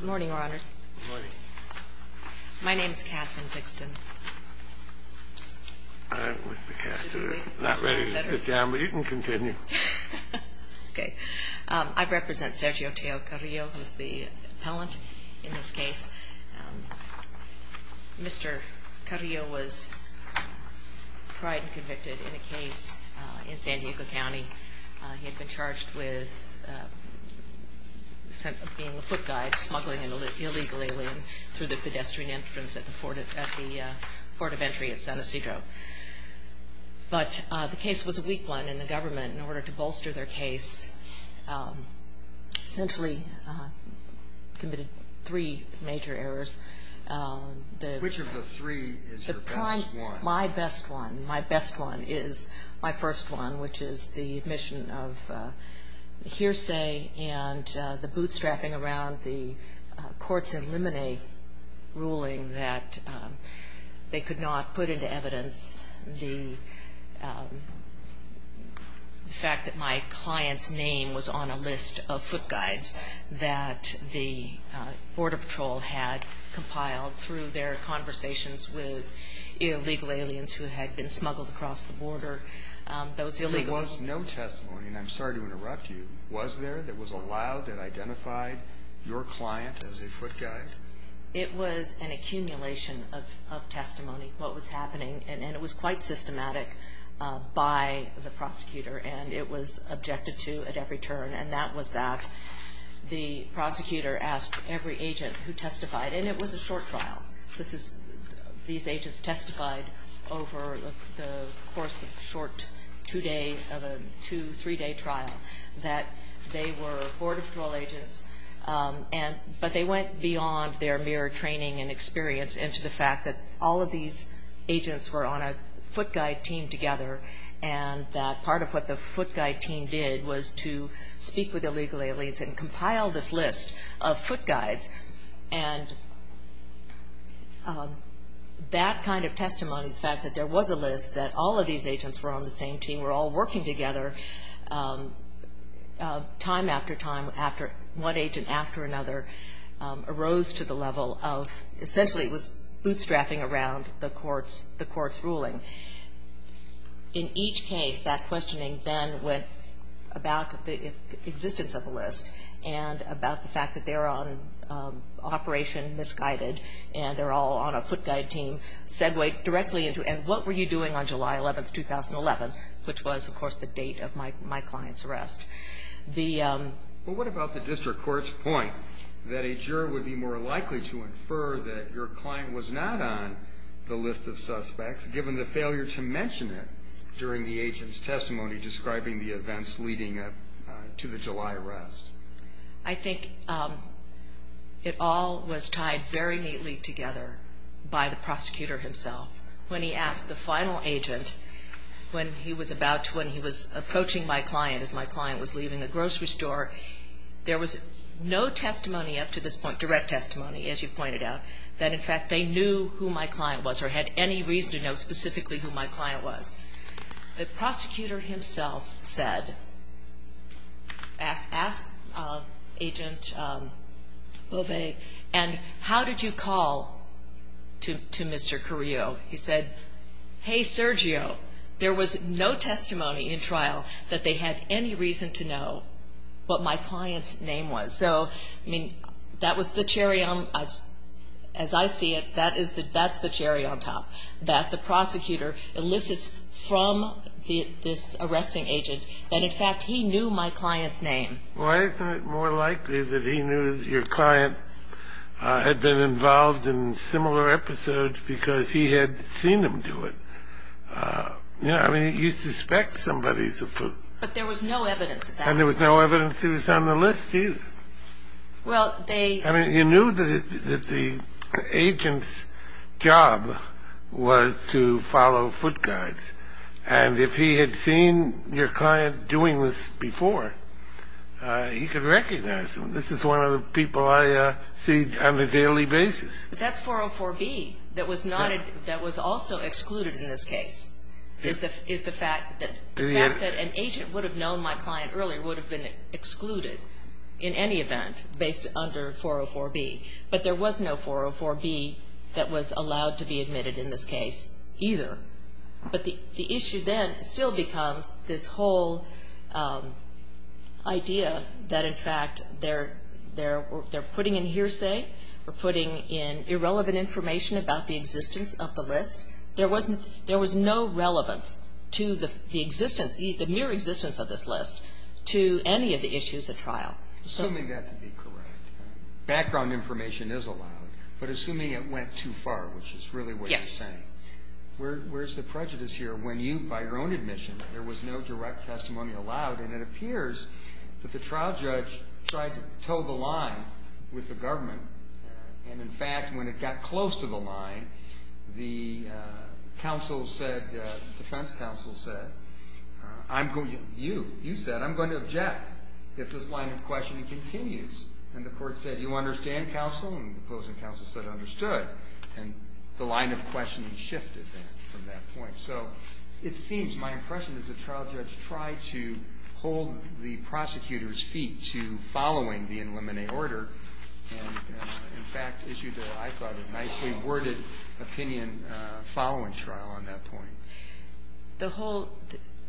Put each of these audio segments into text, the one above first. Good morning, Your Honors. My name is Katherine Dixon. I represent Sergio Tello-Carrillo, who is the appellant in this case. Mr. Carrillo was tried and convicted in a case in San Diego County. He had been charged with being a foot guy, smuggling an illegal alien through the pedestrian entrance at the Fort of Entry at San Ysidro. But the case was a weak one, and the government, in order to bolster their case, essentially committed three major errors. Which of the three is your best one? My best one is my first one, which is the admission of hearsay and the bootstrapping around the Courts Eliminate ruling that they could not put into evidence the fact that my client's name was on a list of foot guides that the Border Patrol had compiled through their conversations with illegal aliens who had been smuggled across the border. There was no testimony, and I'm sorry to interrupt you. Was there that was allowed that identified your client as a foot guide? It was an accumulation of testimony, what was happening. And it was quite systematic by the prosecutor, and it was objected to at every turn, and that was that the prosecutor asked every agent who testified, and it was a short trial. These agents testified over the course of a short two-day, two, three-day trial that they were Border Patrol agents, but they went beyond their mere training and experience into the fact that all of these agents were on a foot guide team together, and that part of what the foot guides did was to speak with illegal aliens and compile this list of foot guides. And that kind of testimony, the fact that there was a list that all of these agents were on the same team, were all working together, time after time, after one agent after another, arose to the level of essentially it was bootstrapping around the Court's ruling. In each case, that questioning then went about the existence of a list and about the fact that they're on Operation Misguided, and they're all on a foot guide team, segued directly into, and what were you doing on July 11, 2011, which was, of course, the date of my client's arrest. Well, what about the district court's point that a juror would be more likely to infer that your client was not on the list of agents than a failure to mention it during the agent's testimony describing the events leading up to the July arrest? I think it all was tied very neatly together by the prosecutor himself. When he asked the final agent when he was about to, when he was approaching my client as my client was leaving the grocery store, there was no testimony up to this point, direct testimony, as you pointed out, that, in fact, they knew who my client was or had any reason to know specifically who my client was. The prosecutor himself said, asked Agent Bovet, and, how did you call to Mr. Carrillo? He said, hey, Sergio, there was no testimony in trial that they had any reason to know what my client's name was. So, I mean, that was the cherry on, as I see it, that is the, that's the cherry on top, that the prosecutor elicits from this arresting agent that, in fact, he knew my client's name. Well, isn't it more likely that he knew your client had been involved in similar episodes because he had seen them do it? You know, I mean, you suspect somebody's a fool. But there was no evidence of that. And there was no evidence he was on the list, either. Well, they I mean, you knew that the agent's job was to follow foot guides. And if he had seen your client doing this before, he could recognize them. This is one of the people I see on a daily basis. But that's 404B that was not, that was also excluded in this case, is the fact that the fact that an agent would have known my client earlier would have been excluded in any event based under 404B. But there was no 404B that was allowed to be admitted in this case, either. But the issue then still becomes this whole idea that, in fact, they're putting in hearsay, they're putting in irrelevant information about the existence of the list. There was no relevance to the mere existence of this list to any of the issues at trial. Assuming that to be correct, background information is allowed, but assuming it went too far, which is really what you're saying. Yes. Where's the prejudice here? When you, by your own admission, there was no direct testimony allowed. And it appears that the trial judge tried to toe the line with the government. And, in fact, when it got close to the line, the counsel said, defense counsel said, I'm going to, you, you said, I'm going to object if this line of questioning continues. And the court said, you understand, counsel? And the opposing counsel said, understood. And the line of questioning shifted from that point. So it seems, my impression, is the trial judge tried to hold the prosecutor's feet to following the in limine order and, in fact, issued a, I thought, a nicely worded opinion following trial on that point. The whole,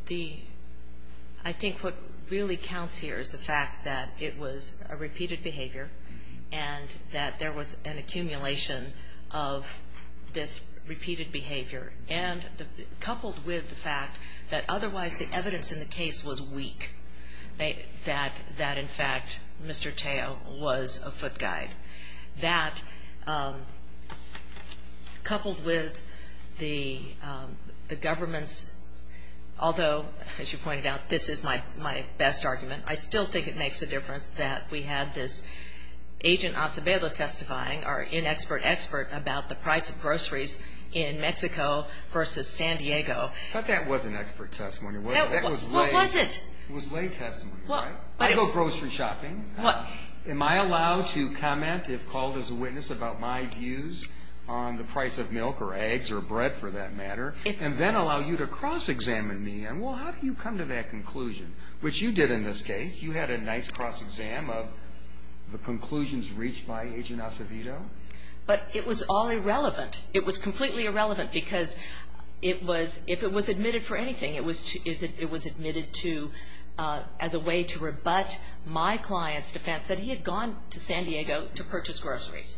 the, I think what really counts here is the fact that it was a repeated behavior and that there was an accumulation of this repeated behavior. And coupled with the fact that otherwise the evidence in the case was weak, that, in fact, Mr. Tao was a foot guide. That, coupled with the government's, although, as you pointed out, this is my best argument, I still think it makes a difference that we had this Agent Acevedo testifying, our inexpert expert, about the price of groceries in Mexico versus San Diego. But that was an expert testimony. What was it? It was lay testimony, right? I go grocery shopping. What? Am I allowed to comment, if called as a witness, about my views on the price of milk or eggs or bread, for that matter, and then allow you to cross-examine me and, well, how do you come to that conclusion? Which you did in this case. You had a nice cross-exam of the conclusions reached by Agent Acevedo. But it was all irrelevant. It was completely irrelevant because it was, if it was admitted for anything, it was admitted to, as a way to rebut my client's defense that he had gone to San Diego to purchase groceries.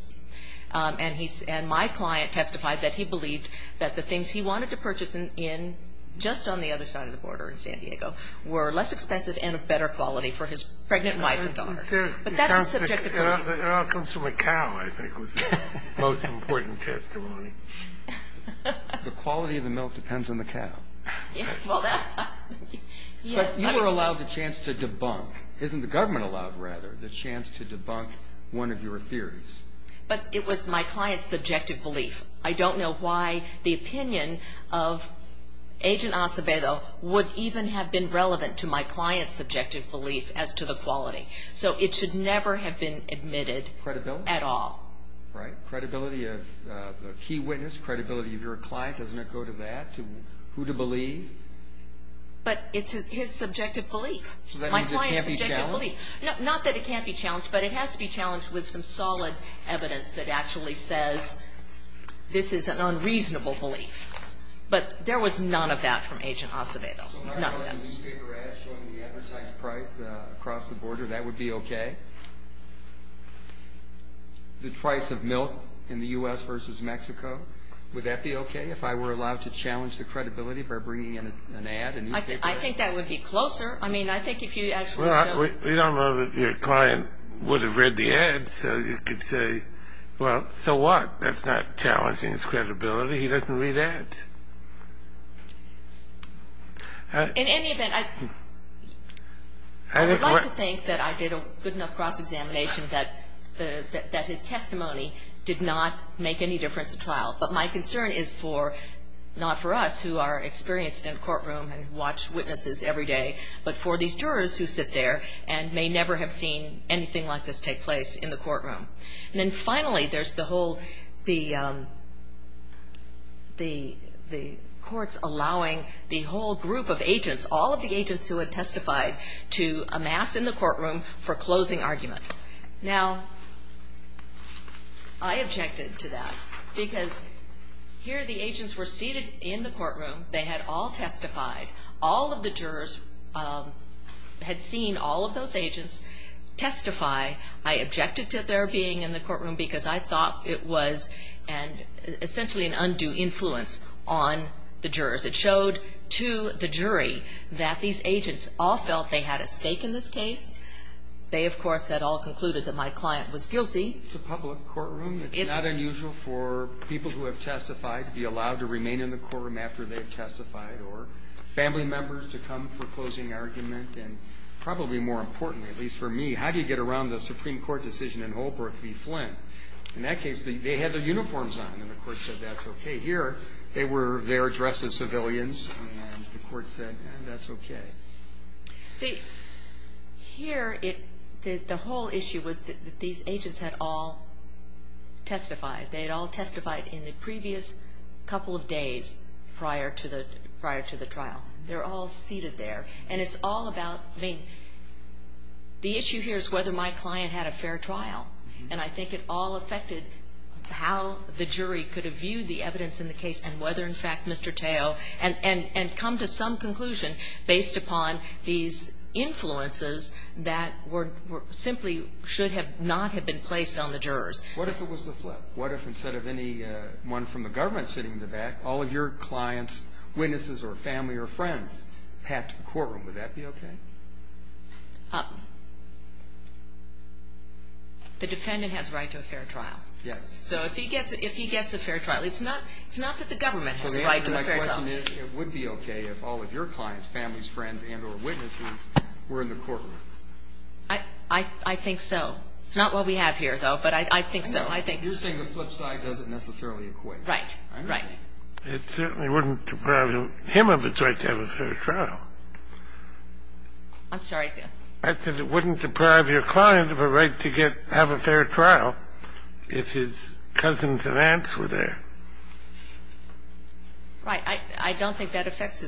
And he, and my client testified that he believed that the things he wanted to purchase in, just on the other side of the border in San Diego, were less expensive and of better quality for his pregnant wife and daughter. But that's a subjective belief. It all comes from a cow, I think, was the most important testimony. The quality of the milk depends on the cow. Well, that. But you were allowed the chance to debunk, isn't the government allowed, rather, the chance to debunk one of your theories? But it was my client's subjective belief. I don't know why the opinion of Agent Acevedo would even have been relevant to my client's subjective belief as to the quality. So it should never have been admitted at all. Credibility. Right. Credibility of a key witness. Credibility of your client. Doesn't it go to that, who to believe? But it's his subjective belief. My client's subjective belief. So that means it can't be challenged? Not that it can't be challenged, but it has to be challenged with some solid evidence that actually says this is an unreasonable belief. But there was none of that from Agent Acevedo. None of that. So if I brought a newspaper ad showing the advertised price across the border, that would be okay? The price of milk in the U.S. versus Mexico, would that be okay, if I were allowed to challenge the credibility by bringing in an ad, a newspaper ad? I think that would be closer. Well, we don't know that your client would have read the ad, so you could say, well, so what? That's not challenging his credibility. He doesn't read ads. In any event, I would like to think that I did a good enough cross-examination that his testimony did not make any difference at trial. But my concern is for, not for us, who are experienced in a courtroom and watch witnesses every day, but for these jurors who sit there and may never have seen anything like this take place in the courtroom. And then finally, there's the whole, the courts allowing the whole group of agents, all of the agents who had testified, to amass in the courtroom for closing argument. Now, I objected to that because here the agents were seated in the courtroom. They had all testified. All of the jurors had seen all of those agents testify. I objected to their being in the courtroom because I thought it was essentially an undue influence on the jurors. It showed to the jury that these agents all felt they had a stake in this case. They, of course, had all concluded that my client was guilty. It's a public courtroom. It's not unusual for people who have testified to be allowed to remain in the courtroom after they've testified or family members to come for closing argument. And probably more importantly, at least for me, how do you get around the Supreme Court decision in Holbrook v. Flynn? In that case, they had their uniforms on, and the court said that's okay. Here, they were there dressed as civilians, and the court said that's okay. Here, the whole issue was that these agents had all testified. They had all testified in the previous couple of days prior to the trial. They're all seated there. And it's all about, I mean, the issue here is whether my client had a fair trial, and I think it all affected how the jury could have viewed the evidence in the case and whether, in fact, Mr. Tao and come to some conclusion based upon these influences that simply should not have been placed on the jurors. What if it was the flip? What if instead of anyone from the government sitting in the back, all of your clients, witnesses, or family or friends had to go to the courtroom? Would that be okay? The defendant has a right to a fair trial. Yes. So if he gets a fair trial, it's not that the government has a right to a fair trial. My question is, it would be okay if all of your clients, families, friends, and or witnesses were in the courtroom. I think so. It's not what we have here, though, but I think so. I think so. You're saying the flip side doesn't necessarily equate. Right. Right. It certainly wouldn't deprive him of his right to have a fair trial. I'm sorry? I said it wouldn't deprive your client of a right to get to have a fair trial if his cousins and aunts were there. Right. I don't think that affects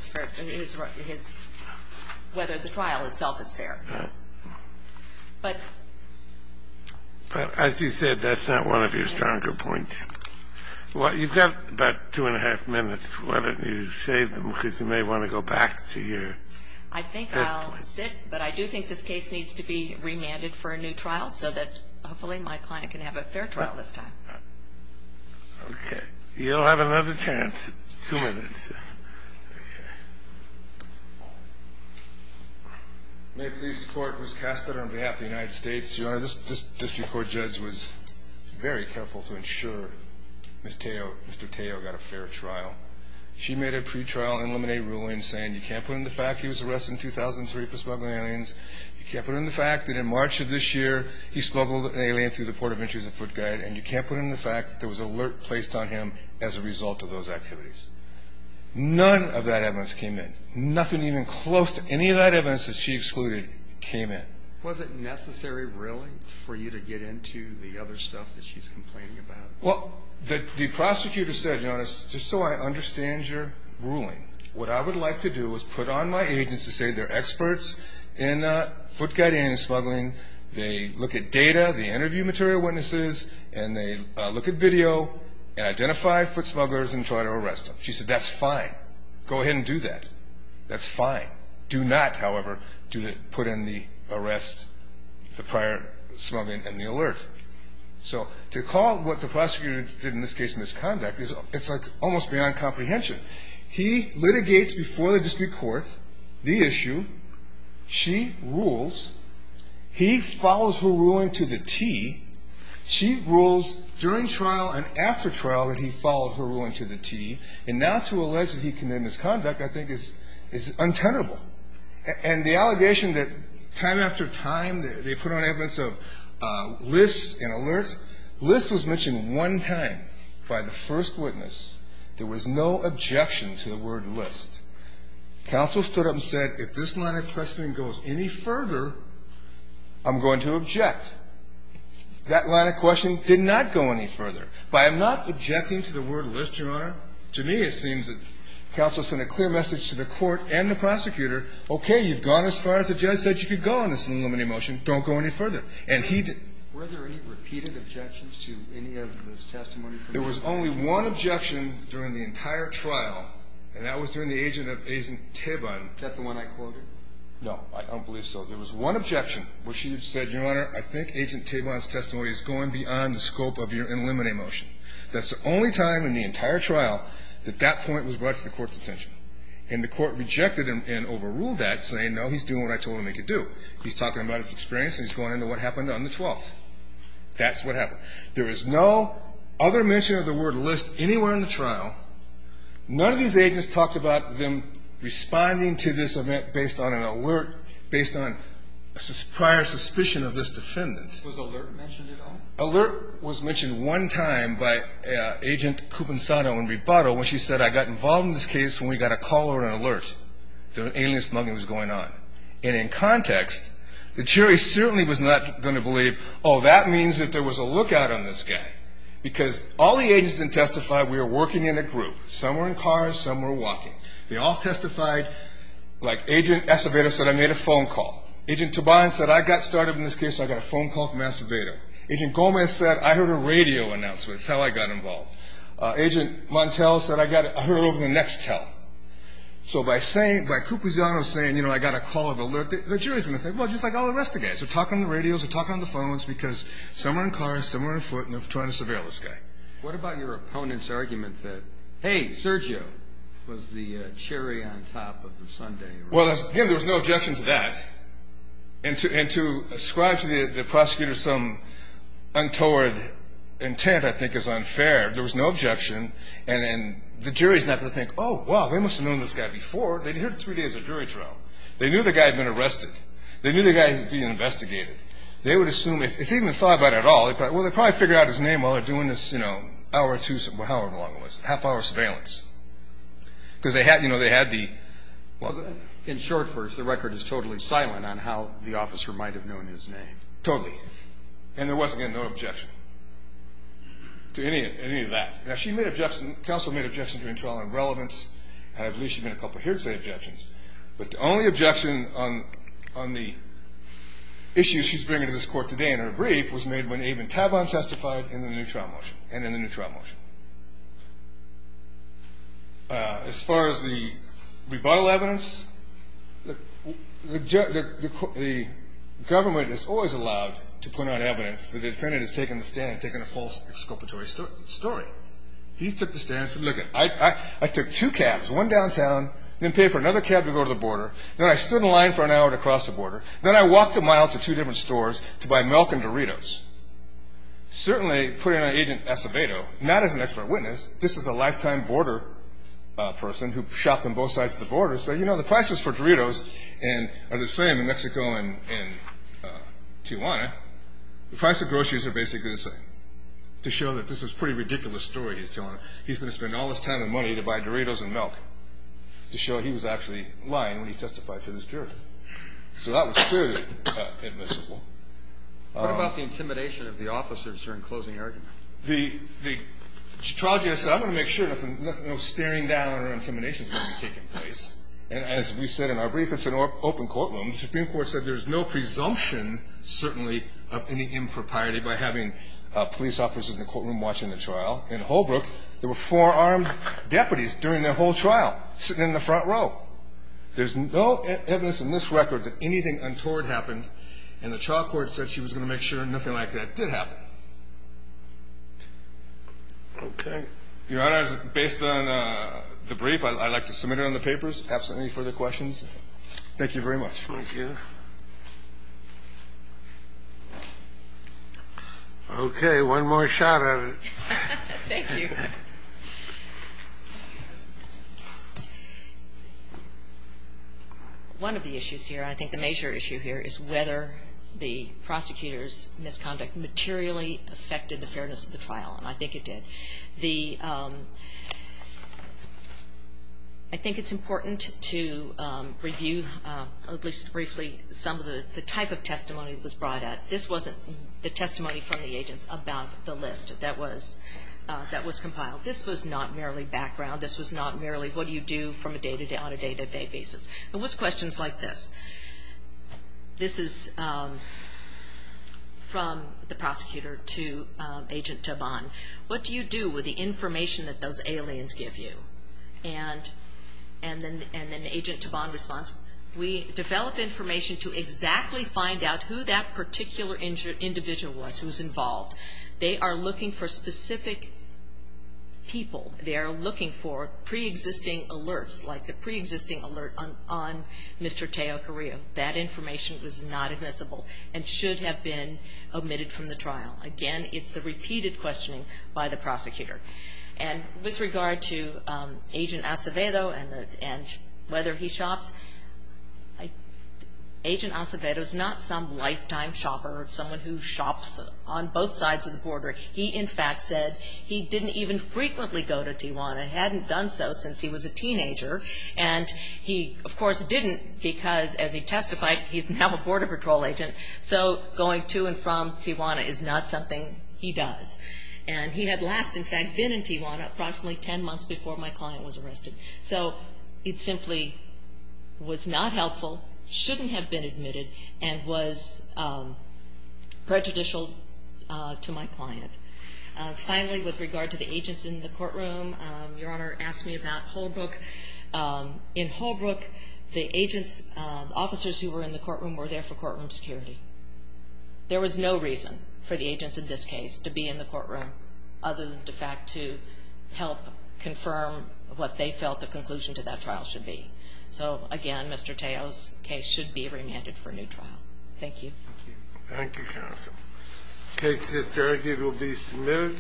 whether the trial itself is fair. Right. But as you said, that's not one of your stronger points. You've got about two and a half minutes. Why don't you save them because you may want to go back to your test points. I think I'll sit, but I do think this case needs to be remanded for a new trial so that hopefully my client can have a fair trial this time. Okay. You'll have another chance. Two minutes. May it please the Court, Ms. Kastetter on behalf of the United States, Your Honor, this district court judge was very careful to ensure Mr. Tao got a fair trial. She made a pretrial and eliminate ruling saying you can't put in the fact he was arrested in 2003 for smuggling aliens, you can't put in the fact that in March of this year he smuggled an alien through the Port of Entry as a foot guide, and you can't put in the fact that there was an alert placed on him as a result of those activities. None of that evidence came in. Nothing even close to any of that evidence that she excluded came in. Was it necessary really for you to get into the other stuff that she's complaining about? Well, the prosecutor said, Your Honor, just so I understand your ruling, what I would like to do is put on my agents to say they're experts in foot guide alien smuggling. They look at data, they interview material witnesses, and they look at video and identify foot smugglers and try to arrest them. She said that's fine. Go ahead and do that. That's fine. Do not, however, put in the arrest, the prior smuggling and the alert. So to call what the prosecutor did in this case misconduct, it's like almost beyond comprehension. He litigates before the district court the issue. She rules. He follows her ruling to the T. She rules during trial and after trial that he followed her ruling to the T. And now to allege that he committed misconduct I think is untenable. And the allegation that time after time they put on evidence of lists and alerts, lists was mentioned one time by the first witness. There was no objection to the word list. Counsel stood up and said if this line of questioning goes any further, I'm going to object. That line of question did not go any further. But I'm not objecting to the word list, Your Honor. To me it seems that counsel sent a clear message to the court and the prosecutor, okay, you've gone as far as the judge said you could go on this unilimited motion. Don't go any further. And he did. Were there any repeated objections to any of this testimony? There was only one objection during the entire trial, and that was during the agent of Agent Tabon. That's the one I quoted? No. I don't believe so. There was one objection where she said, Your Honor, I think Agent Tabon's testimony is going beyond the scope of your unlimited motion. That's the only time in the entire trial that that point was brought to the court's attention. And the court rejected and overruled that saying, no, he's doing what I told him he could do. He's talking about his experience and he's going into what happened on the 12th. That's what happened. There is no other mention of the word list anywhere in the trial. None of these agents talked about them responding to this event based on an alert, based on a prior suspicion of this defendant. Was alert mentioned at all? Alert was mentioned one time by Agent Cuponsato in rebuttal when she said, I got involved in this case when we got a call or an alert that an alien smuggling was going on. And in context, the jury certainly was not going to believe, oh, that means that there was a lookout on this guy. Because all the agents that testified, we were working in a group. Some were in cars, some were walking. They all testified like Agent Acevedo said, I made a phone call. Agent Tabon said, I got started in this case, so I got a phone call from Acevedo. Agent Gomez said, I heard a radio announcement. That's how I got involved. Agent Montel said, I heard it over the next tell. So by saying, by Cuponsato saying, you know, I got a call of alert, the jury's going to think, well, just like all the rest of the guys, they're talking on the radios, they're talking on the phones because some are in cars, some are on foot, and they're trying to surveil this guy. What about your opponent's argument that, hey, Sergio was the cherry on top of the sundae? Well, again, there was no objection to that. And to ascribe to the prosecutor some untoward intent I think is unfair. There was no objection. And the jury's not going to think, oh, well, they must have known this guy before. They'd heard it three days of jury trial. They knew the guy had been arrested. They knew the guy had been investigated. They would assume, if they'd even thought about it at all, well, they'd probably figure out his name while they're doing this, you know, hour or two, however long it was, half-hour surveillance. Because they had, you know, they had the... In short, first, the record is totally silent on how the officer might have known his name. Totally. And there was, again, no objection to any of that. Now, she made objections. Counsel made objections during trial on relevance, and I believe she made a couple of hearsay objections. But the only objection on the issues she's bringing to this court today in her brief was made when Abe and Tavon testified in the new trial motion, and in the new trial motion. As far as the rebuttal evidence, the government is always allowed to point out evidence that the defendant has taken the stand, taken a false exculpatory story. He took the stand and said, look, I took two cabs, one downtown, didn't pay for another cab to go to the border. Then I stood in line for an hour to cross the border. Then I walked a mile to two different stores to buy milk and Doritos. Certainly, putting on Agent Acevedo, not as an expert witness, just as a lifetime border person who shopped on both sides of the border, said, you know, the prices for Doritos are the same in Mexico and Tijuana. The price of groceries are basically the same, to show that this is a pretty ridiculous story he's telling. He's going to spend all this time and money to buy Doritos and milk to show he was actually lying when he testified to this jury. So that was clearly admissible. What about the intimidation of the officers during closing argument? The trial judge said, I'm going to make sure nothing, no staring down or intimidation is going to be taking place. And as we said in our brief, it's an open courtroom. The Supreme Court said there's no presumption, certainly, of any impropriety by having police officers in the courtroom watching the trial. In Holbrook, there were four armed deputies during the whole trial, sitting in the front row. There's no evidence in this record that anything untoward happened, and the trial court said she was going to make sure nothing like that did happen. Okay. Your Honor, based on the brief, I'd like to submit it on the papers. Any further questions? Thank you very much. Thank you. Okay. One more shot at it. Thank you. One of the issues here, I think the major issue here, is whether the prosecutor's misconduct materially affected the fairness of the trial, and I think it did. I think it's important to review, at least briefly, some of the type of testimony that was brought out. This wasn't the testimony from the agents about the list that was compiled. This was not merely background. This was not merely what do you do on a day-to-day basis. It was questions like this. This is from the prosecutor to Agent Tobon. What do you do with the information that those aliens give you? And then Agent Tobon responds, we develop information to exactly find out who that particular individual was who was involved. They are looking for specific people. They are looking for preexisting alerts, like the preexisting alert on Mr. Teo Carrillo. That information was not admissible and should have been omitted from the trial. Again, it's the repeated questioning by the prosecutor. And with regard to Agent Acevedo and whether he shops, Agent Acevedo is not some lifetime shopper, someone who shops on both sides of the border. He, in fact, said he didn't even frequently go to Tijuana, hadn't done so since he was a teenager, and he, of course, didn't because, as he testified, he's now a Border Patrol agent, so going to and from Tijuana is not something he does. And he had last, in fact, been in Tijuana approximately 10 months before my client was arrested. So it simply was not helpful, shouldn't have been admitted, and was prejudicial to my client. Finally, with regard to the agents in the courtroom, Your Honor asked me about Holbrook. In Holbrook, the agents, officers who were in the courtroom were there for courtroom security. There was no reason for the agents in this case to be in the courtroom other than, in fact, to help confirm what they felt the conclusion to that trial should be. So, again, Mr. Teo's case should be remanded for a new trial. Thank you. Thank you, counsel. The case to this jury here will be submitted.